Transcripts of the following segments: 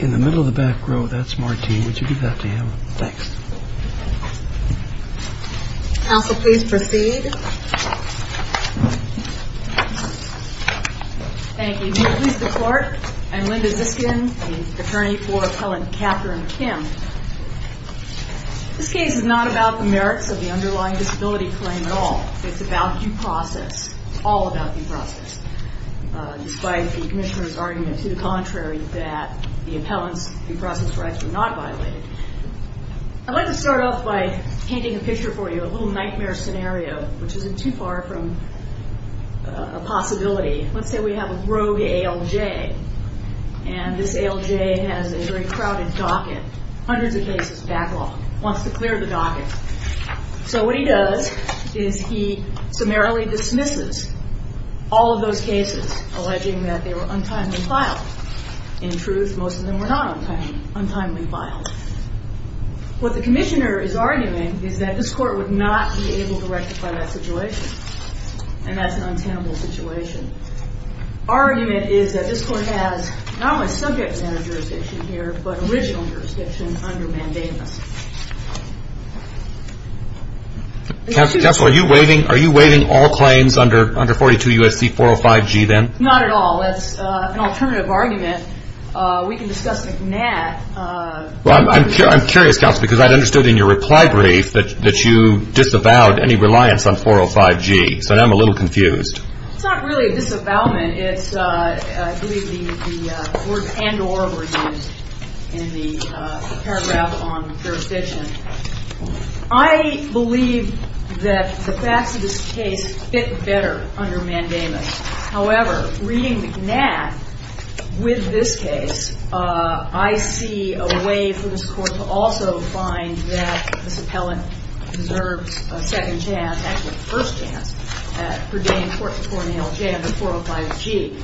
In the middle of the back row, that's Martine. Would you give that to him? Thanks. Counsel, please proceed. Thank you. May it please the court, I'm Linda Ziskin, the attorney for Helen Catherine Kim. This case is not about the merits of the underlying disability claim at all. It's about due process. It's all about due process. Despite the Commissioner's argument to the contrary that the appellant's due process rights were not violated. I'd like to start off by painting a picture for you, a little nightmare scenario, which isn't too far from a possibility. Let's say we have a rogue ALJ, and this ALJ has a very crowded docket, hundreds of cases backlogged, wants to clear the docket. So what he does is he summarily dismisses all of those cases, alleging that they were untimely filed. In truth, most of them were not untimely filed. What the Commissioner is arguing is that this court would not be able to rectify that situation. And that's an untenable situation. Our argument is that this court has not only subject matter jurisdiction here, but original jurisdiction under mandamus. Counsel, are you waiving all claims under 42 U.S.C. 405G then? Not at all. That's an alternative argument. We can discuss McNatt. Well, I'm curious, Counsel, because I understood in your reply brief that you disavowed any reliance on 405G. So now I'm a little confused. It's not really a disavowment. It's, I believe, the words and or were used in the paragraph on jurisdiction. I believe that the facts of this case fit better under mandamus. However, reading McNatt with this case, I see a way for this Court to also find that this appellant deserves a second chance, actually a first chance, at purdaining court-to-court nail jam at 405G.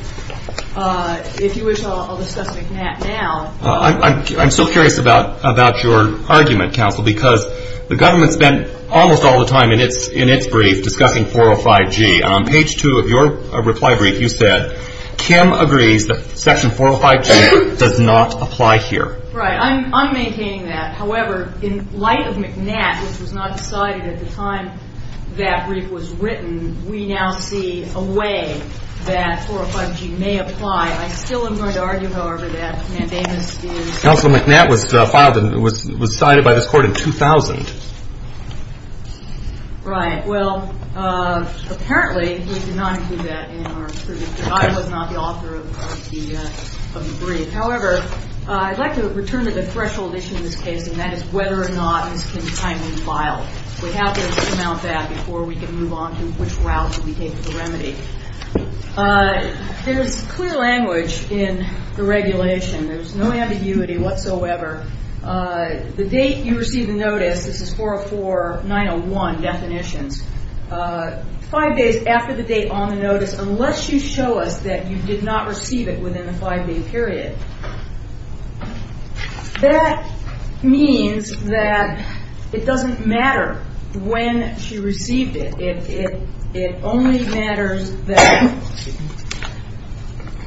If you wish, I'll discuss McNatt now. I'm so curious about your argument, Counsel, because the government spent almost all the time in its brief discussing 405G. On page two of your reply brief, you said, Kim agrees that section 405G does not apply here. Right. I'm maintaining that. However, in light of McNatt, which was not decided at the time that brief was written, we now see a way that 405G may apply. I still am going to argue, however, that mandamus is... Counsel, McNatt was filed and was cited by this Court in 2000. Right. Well, apparently, we did not include that in our brief. The guy was not the author of the brief. However, I'd like to return to the threshold issue in this case, and that is whether or not this can be timely filed. We have to amount that before we can move on to which route we take the remedy. There's clear language in the regulation. There's no ambiguity whatsoever. The date you received the notice, this is 404-901 definitions, five days after the date on the notice, unless you show us that you did not receive it within the five-day period. That means that it doesn't matter when she received it. It only matters that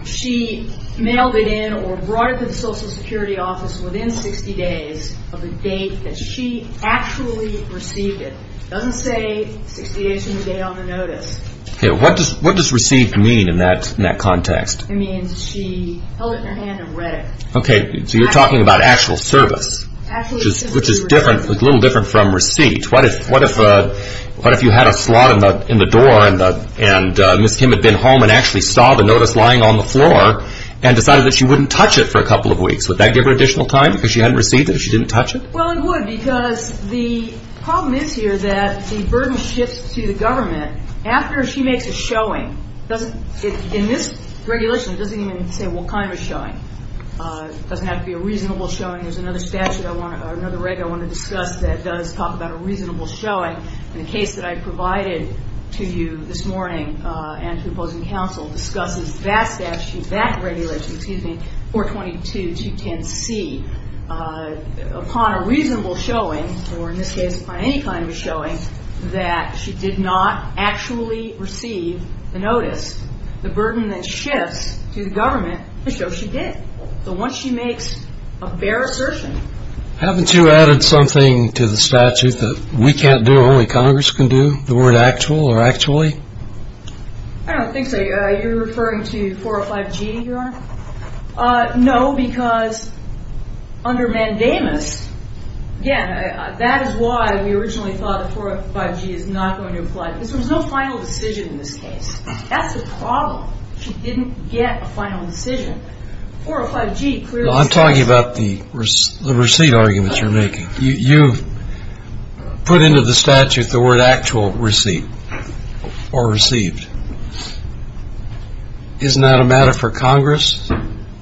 she mailed it in or brought it to the Social Security office within 60 days of the date that she actually received it. It doesn't say 60 days from the date on the notice. What does received mean in that context? It means she held it in her hand and read it. Okay, so you're talking about actual service, which is a little different from receipt. What if you had a slot in the door and Ms. Kim had been home and actually saw the notice lying on the floor and decided that she wouldn't touch it for a couple of weeks? Would that give her additional time because she hadn't received it if she didn't touch it? Well, it would because the problem is here that the burden shifts to the government. After she makes a showing, in this regulation, it doesn't even say what kind of showing. It doesn't have to be a reasonable showing. There's another statute I want to discuss that does talk about a reasonable showing. The case that I provided to you this morning and to opposing counsel discusses that statute, that regulation, 422210C. Upon a reasonable showing, or in this case upon any kind of showing, that she did not actually receive the notice, the burden that shifts to the government shows she did. So once she makes a bare assertion. Haven't you added something to the statute that we can't do, only Congress can do, the word actual or actually? I don't think so. You're referring to 405G, Your Honor? No, because under mandamus, again, that is why we originally thought that 405G is not going to apply. There's no final decision in this case. That's the problem. She didn't get a final decision. 405G clearly says. I'm talking about the receipt arguments you're making. You put into the statute the word actual receipt or received. Isn't that a matter for Congress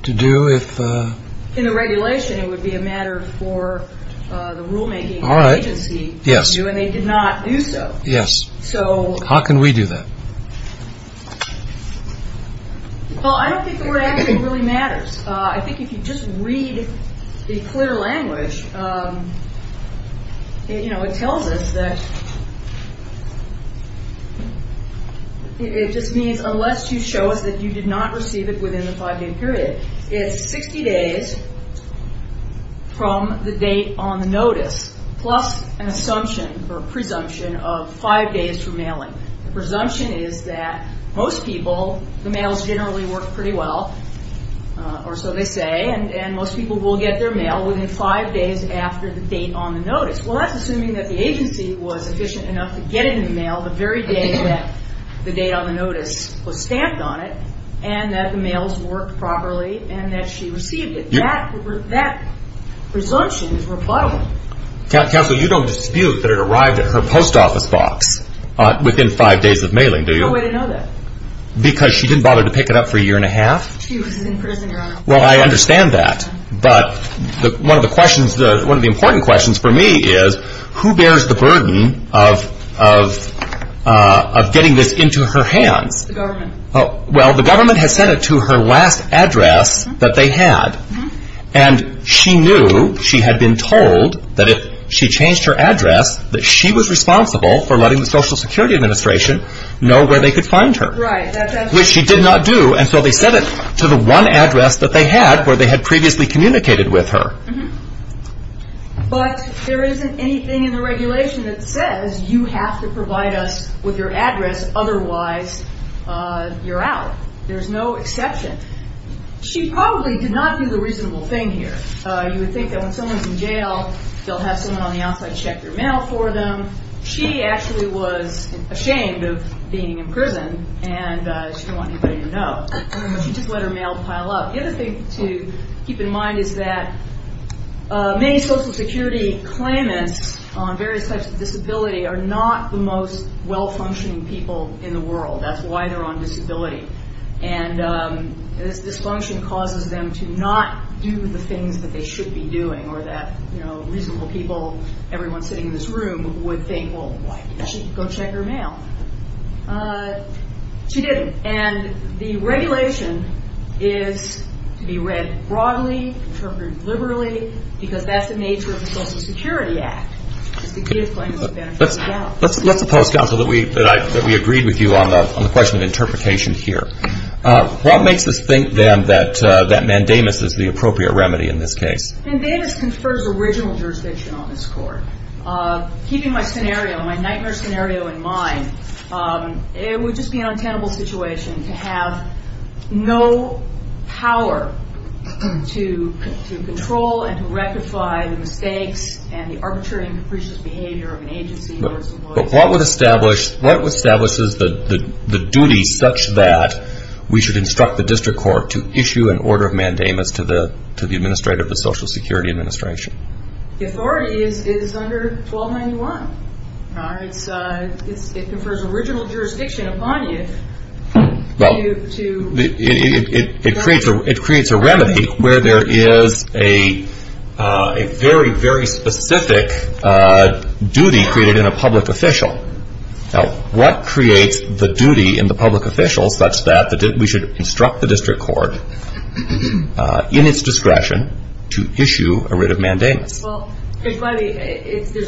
to do if? In the regulation, it would be a matter for the rulemaking agency to do, and they did not do so. Yes. How can we do that? Well, I don't think the word actual really matters. I think if you just read the clear language, it tells us that it just means unless you show us that you did not receive it within the five-day period, it's 60 days from the date on the notice plus an assumption or presumption of five days for mailing. The presumption is that most people, the mails generally work pretty well, or so they say, and most people will get their mail within five days after the date on the notice. Well, that's assuming that the agency was efficient enough to get it in the mail the very day that the date on the notice was stamped on it and that the mails worked properly and that she received it. That presumption is rebuttable. Counsel, you don't dispute that it arrived at her post office box within five days of mailing, do you? No way to know that. Because she didn't bother to pick it up for a year and a half? She was in prison, Your Honor. Well, I understand that, but one of the important questions for me is who bears the burden of getting this into her hands? The government. Well, the government has sent it to her last address that they had. And she knew, she had been told that if she changed her address, that she was responsible for letting the Social Security Administration know where they could find her. Right. Which she did not do, and so they sent it to the one address that they had where they had previously communicated with her. But there isn't anything in the regulation that says you have to provide us with your address otherwise you're out. There's no exception. She probably did not do the reasonable thing here. You would think that when someone's in jail, they'll have someone on the outside check your mail for them. She actually was ashamed of being in prison, and she didn't want anybody to know. She just let her mail pile up. The other thing to keep in mind is that many Social Security claimants on various types of disability are not the most well-functioning people in the world. That's why they're on disability. And this dysfunction causes them to not do the things that they should be doing or that reasonable people, everyone sitting in this room, would think, well, why didn't she go check her mail? She didn't. And the regulation is to be read broadly, interpreted liberally, because that's the nature of the Social Security Act, is to give claimants a benefit of the doubt. Let's oppose counsel that we agreed with you on the question of interpretation here. What makes us think, then, that mandamus is the appropriate remedy in this case? Mandamus confers original jurisdiction on this court. Keeping my scenario, my nightmare scenario in mind, it would just be an untenable situation to have no power to control and to rectify the mistakes and the arbitrary and capricious behavior of an agency or its employees. But what would establish the duties such that we should instruct the district court to issue an order of mandamus to the administrator of the Social Security Administration? The authority is under 1291. It confers original jurisdiction upon you to... It creates a remedy where there is a very, very specific duty created in a public official. Now, what creates the duty in the public official such that we should instruct the district court, in its discretion, to issue a writ of mandamus? Well, there's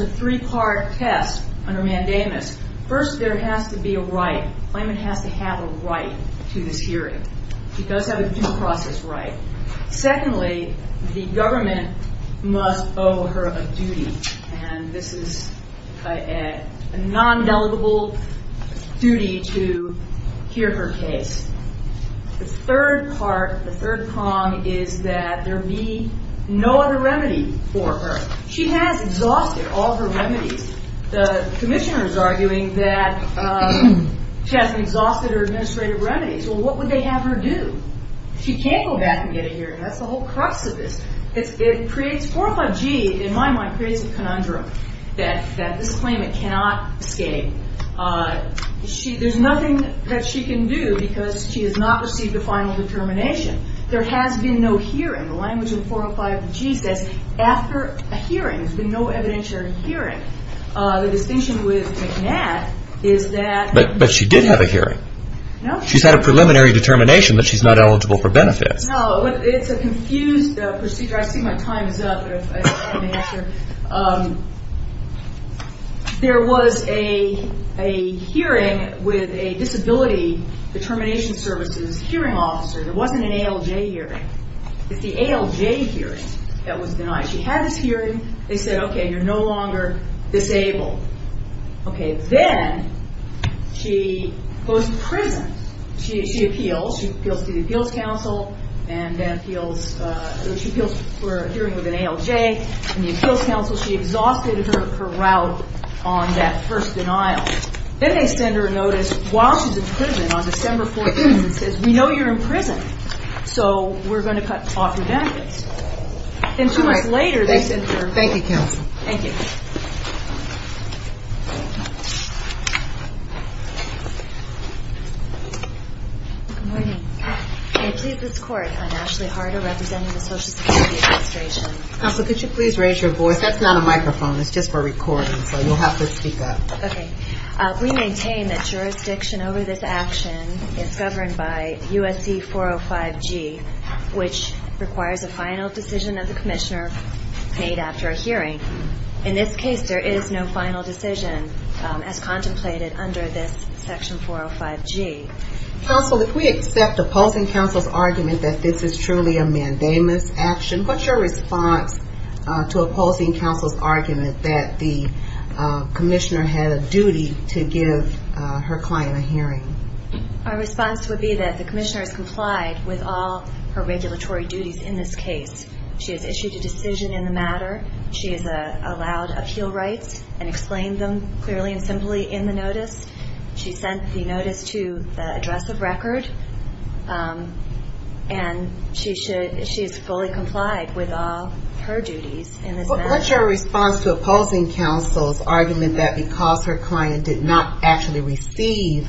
a three-part test under mandamus. First, there has to be a right. Claimant has to have a right to this hearing. She does have a due process right. Secondly, the government must owe her a duty, and this is a non-delegable duty to hear her case. The third part, the third prong, is that there be no other remedy for her. She has exhausted all her remedies. The commissioner is arguing that she hasn't exhausted her administrative remedies. Well, what would they have her do? She can't go back and get a hearing. That's the whole crux of this. It creates 45G, in my mind, creates a conundrum that this claimant cannot escape. There's nothing that she can do because she has not received a final determination. There has been no hearing. The language in 405G says after a hearing. There's been no evidentiary hearing. The distinction with McNabb is that… But she did have a hearing. No. She's had a preliminary determination that she's not eligible for benefits. No. It's a confused procedure. I see my time is up. There was a hearing with a disability determination services hearing officer. It wasn't an ALJ hearing. It's the ALJ hearing that was denied. She had this hearing. They said, okay, you're no longer disabled. Okay, then she goes to prison. She appeals. She appeals to the appeals council. She appeals for a hearing with an ALJ. The appeals council, she exhausted her route on that first denial. Then they send her a notice while she's in prison on December 14th. It says, we know you're in prison, so we're going to cut off your benefits. Then two months later, they send her… Thank you, counsel. Thank you. Good morning. May it please this court, I'm Ashley Harder, representing the Social Security Administration. Counsel, could you please raise your voice? That's not a microphone. It's just for recording, so you'll have to speak up. Okay. We maintain that jurisdiction over this action is governed by USC 405G, which requires a final decision of the commissioner made after a hearing. In this case, there is no final decision as contemplated under this section 405G. Counsel, if we accept opposing counsel's argument that this is truly a mandamus action, what's your response to opposing counsel's argument that the commissioner had a duty to give her client a hearing? Our response would be that the commissioner has complied with all her regulatory duties in this case. She has issued a decision in the matter. She has allowed appeal rights and explained them clearly and simply in the notice. She sent the notice to the address of record. And she is fully complied with all her duties in this matter. What's your response to opposing counsel's argument that because her client did not actually receive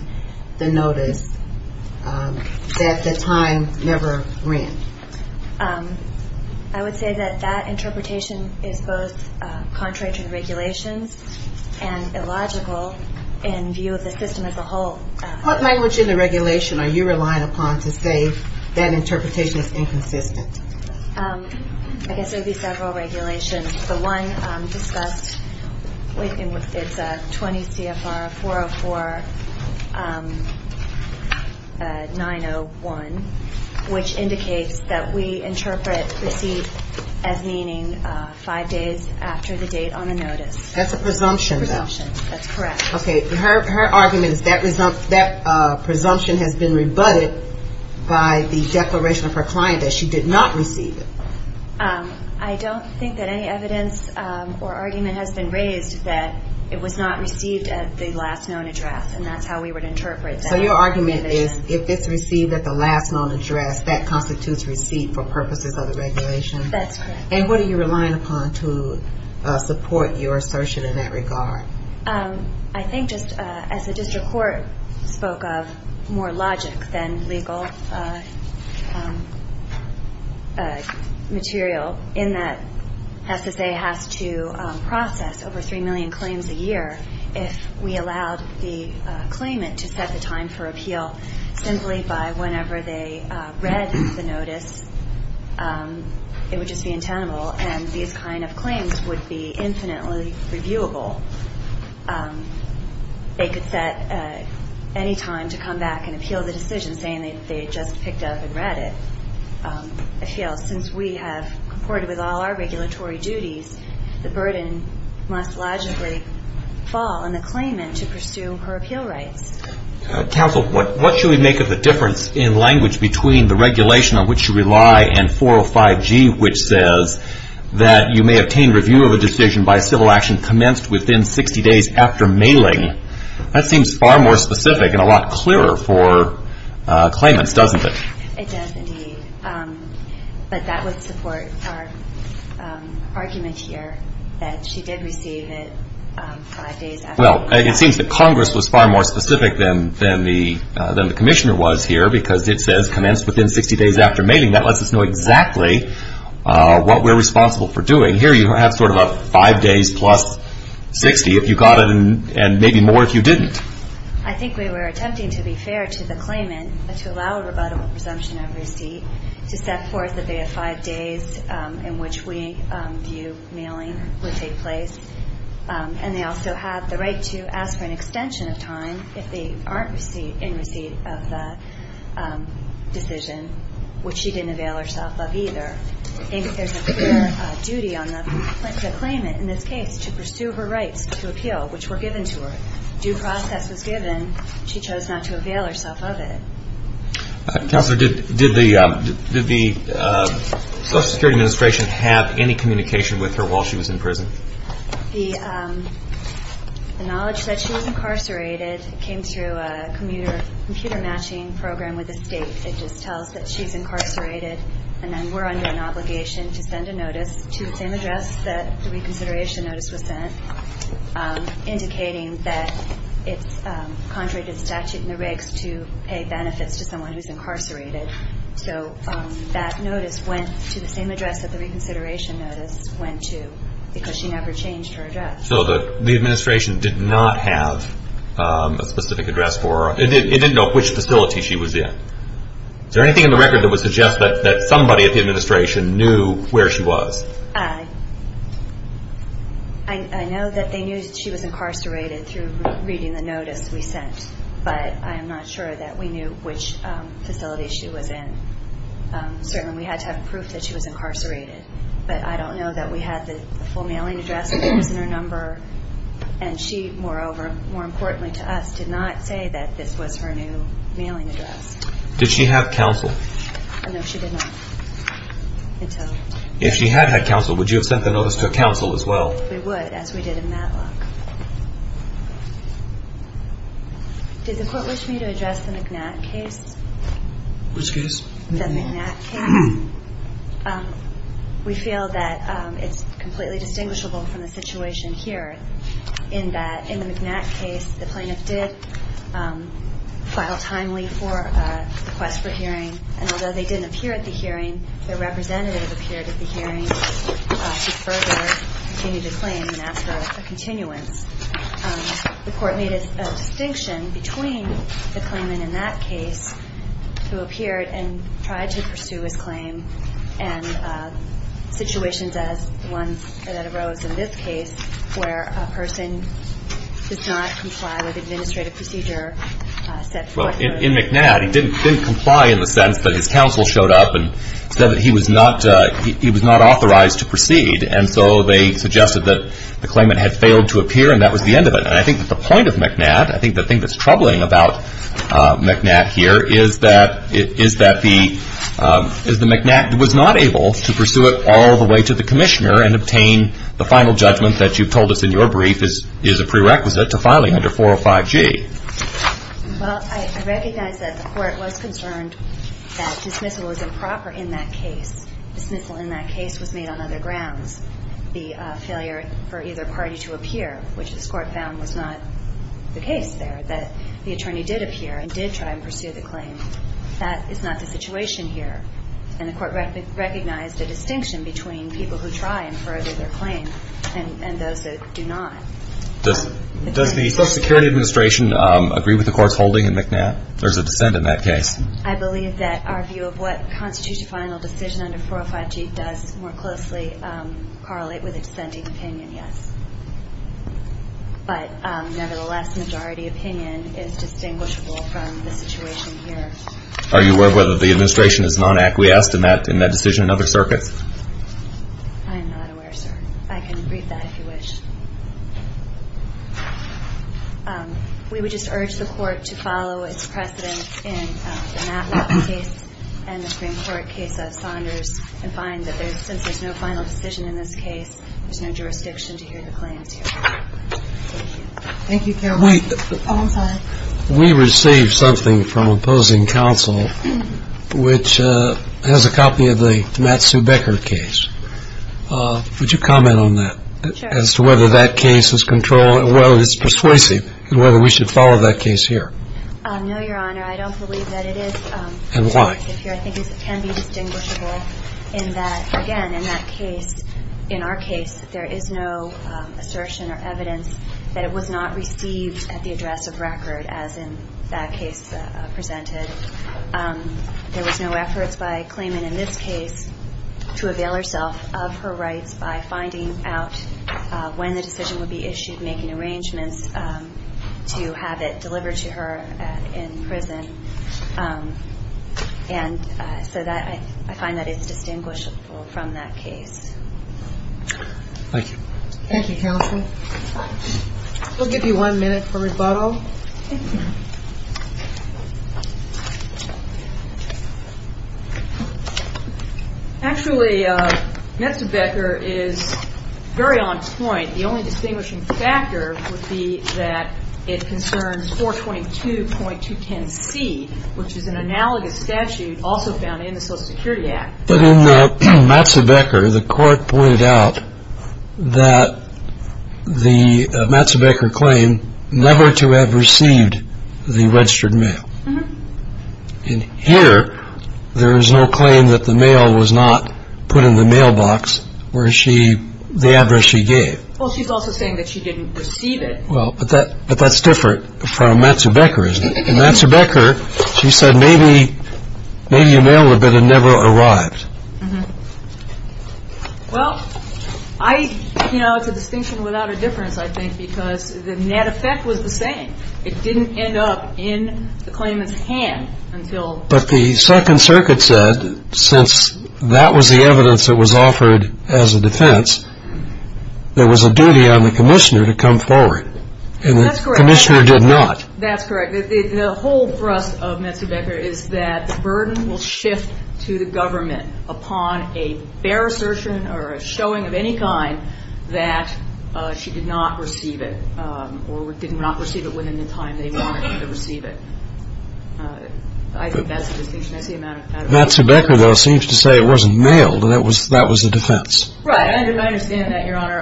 the notice, that the time never ran? I would say that that interpretation is both contrary to the regulations and illogical in view of the system as a whole. What language in the regulation are you relying upon to say that interpretation is inconsistent? I guess there would be several regulations. The one discussed, it's 20 CFR 404-901, which indicates that we interpret receive as meaning five days after the date on the notice. That's a presumption, though. That's correct. Okay. Her argument is that presumption has been rebutted by the declaration of her client that she did not receive it. I don't think that any evidence or argument has been raised that it was not received at the last known address, and that's how we would interpret that. So your argument is if it's received at the last known address, that constitutes receipt for purposes of the regulation? That's correct. And what are you relying upon to support your assertion in that regard? I think just as the district court spoke of more logic than legal material in that SSA has to process over 3 million claims a year if we allowed the claimant to set the time for appeal simply by whenever they read the notice, it would just be untenable, and these kind of claims would be infinitely reviewable. They could set any time to come back and appeal the decision saying they just picked up and read it. It fails. Since we have reported with all our regulatory duties, the burden must logically fall on the claimant to pursue her appeal rights. Counsel, what should we make of the difference in language between the regulation on which you rely and 405G, which says that you may obtain review of a decision by civil action commenced within 60 days after mailing? That seems far more specific and a lot clearer for claimants, doesn't it? It does, indeed. But that would support our argument here that she did receive it five days after mailing. Well, it seems that Congress was far more specific than the commissioner was here because it says commenced within 60 days after mailing. That lets us know exactly what we're responsible for doing. Here you have sort of a five days plus 60 if you got it and maybe more if you didn't. I think we were attempting to be fair to the claimant to allow a rebuttable presumption of receipt to set forth that they have five days in which we view mailing would take place. And they also have the right to ask for an extension of time if they aren't in receipt of the decision, which she didn't avail herself of either. I think there's a fair duty on the claimant in this case to pursue her rights to appeal, which were given to her. Due process was given. She chose not to avail herself of it. Counselor, did the Social Security Administration have any communication with her while she was in prison? The knowledge that she was incarcerated came through a computer matching program with the state. It just tells that she's incarcerated and then we're under an obligation to send a notice to the same address that the reconsideration notice was sent, indicating that it's contrary to statute in the rigs to pay benefits to someone who's incarcerated. So that notice went to the same address that the reconsideration notice went to because she never changed her address. So the administration did not have a specific address for her. It didn't know which facility she was in. Is there anything in the record that would suggest that somebody at the administration knew where she was? I know that they knew she was incarcerated through reading the notice we sent, but I am not sure that we knew which facility she was in. Certainly we had to have proof that she was incarcerated, but I don't know that we had the full mailing address that was in her number. And she, moreover, more importantly to us, did not say that this was her new mailing address. Did she have counsel? No, she did not. If she had had counsel, would you have sent the notice to counsel as well? We would, as we did in Matlock. Did the court wish me to address the McNatt case? Which case? The McNatt case. We feel that it's completely distinguishable from the situation here in that in the McNatt case, the plaintiff did file timely for a request for hearing, and although they didn't appear at the hearing, their representative appeared at the hearing to further continue the claim and ask for a continuance. The court made a distinction between the claimant in that case who appeared and tried to pursue his claim and situations as the ones that arose in this case where a person does not comply with administrative procedure set forth. Well, in McNatt, he didn't comply in the sense that his counsel showed up and said that he was not authorized to proceed, and so they suggested that the claimant had failed to appear and that was the end of it. And I think that the point of McNatt, I think the thing that's troubling about McNatt here, is that the McNatt was not able to pursue it all the way to the commissioner and obtain the final judgment that you've told us in your brief is a prerequisite to filing under 405G. Well, I recognize that the court was concerned that dismissal was improper in that case. Dismissal in that case was made on other grounds. The failure for either party to appear, which this court found was not the case there, that the attorney did appear and did try and pursue the claim, that is not the situation here. And the court recognized the distinction between people who try and further their claim and those that do not. Does the Social Security Administration agree with the court's holding in McNatt? There's a dissent in that case. I believe that our view of what constitutes a final decision under 405G does more closely correlate with a dissenting opinion, yes. But nevertheless, majority opinion is distinguishable from the situation here. Are you aware of whether the administration is non-acquiesced in that decision in other circuits? I'm not aware, sir. I can read that if you wish. We would just urge the court to follow its precedent in the McNatt case and the Supreme Court case of Saunders and find that since there's no final decision in this case, there's no jurisdiction to hear the claims here. Thank you. Thank you, Carol. We received something from opposing counsel, which has a copy of the Matt Sue Becker case. Would you comment on that as to whether that case is controlled and whether it's persuasive and whether we should follow that case here? No, Your Honor. I don't believe that it is. And why? I think it can be distinguishable in that, again, in that case, in our case, that there is no assertion or evidence that it was not received at the address of record as in that case presented. There was no efforts by Clayman in this case to avail herself of her rights by finding out when the decision would be issued, making arrangements to have it delivered to her in prison. And so I find that it's distinguishable from that case. Thank you. Thank you, counsel. We'll give you one minute for rebuttal. Thank you. Actually, Matt Sue Becker is very on point. The only distinguishing factor would be that it concerns 422.210C, which is an analogous statute also found in the Social Security Act. But in Matt Sue Becker, the court pointed out that the Matt Sue Becker claim never to have received the registered mail. And here, there is no claim that the mail was not put in the mailbox where she the address she gave. Well, she's also saying that she didn't receive it. Well, but that but that's different from Matt Sue Becker, isn't it? And Matt Sue Becker, she said maybe maybe a mail would have been never arrived. Well, I know it's a distinction without a difference, I think, because the net effect was the same. It didn't end up in the claimant's hand until. But the Second Circuit said since that was the evidence that was offered as a defense, there was a duty on the commissioner to come forward. And the commissioner did not. That's correct. The whole thrust of Matt Sue Becker is that the burden will shift to the government upon a fair assertion or a showing of any kind that she did not receive it or did not receive it within the time they wanted to receive it. I think that's a distinction. That's the amount of time. Matt Sue Becker, though, seems to say it wasn't mailed and that was the defense. Right. And I understand that, Your Honor.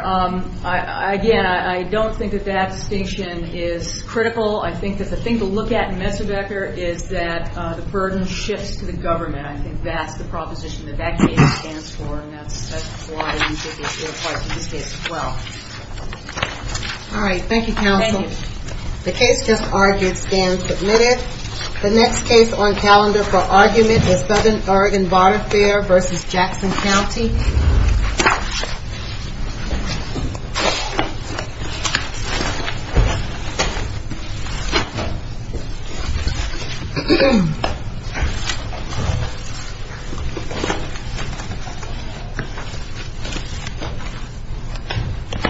Again, I don't think that that distinction is critical. I think that the thing to look at in Matt Sue Becker is that the burden shifts to the government. I think that's the proposition that that case stands for. And that's why I think it's your part in this case as well. All right. Thank you, counsel. Thank you. The case just argued stands admitted. The next case on calendar for argument is Southern Oregon Bar Fair v. Jackson County. Thank you.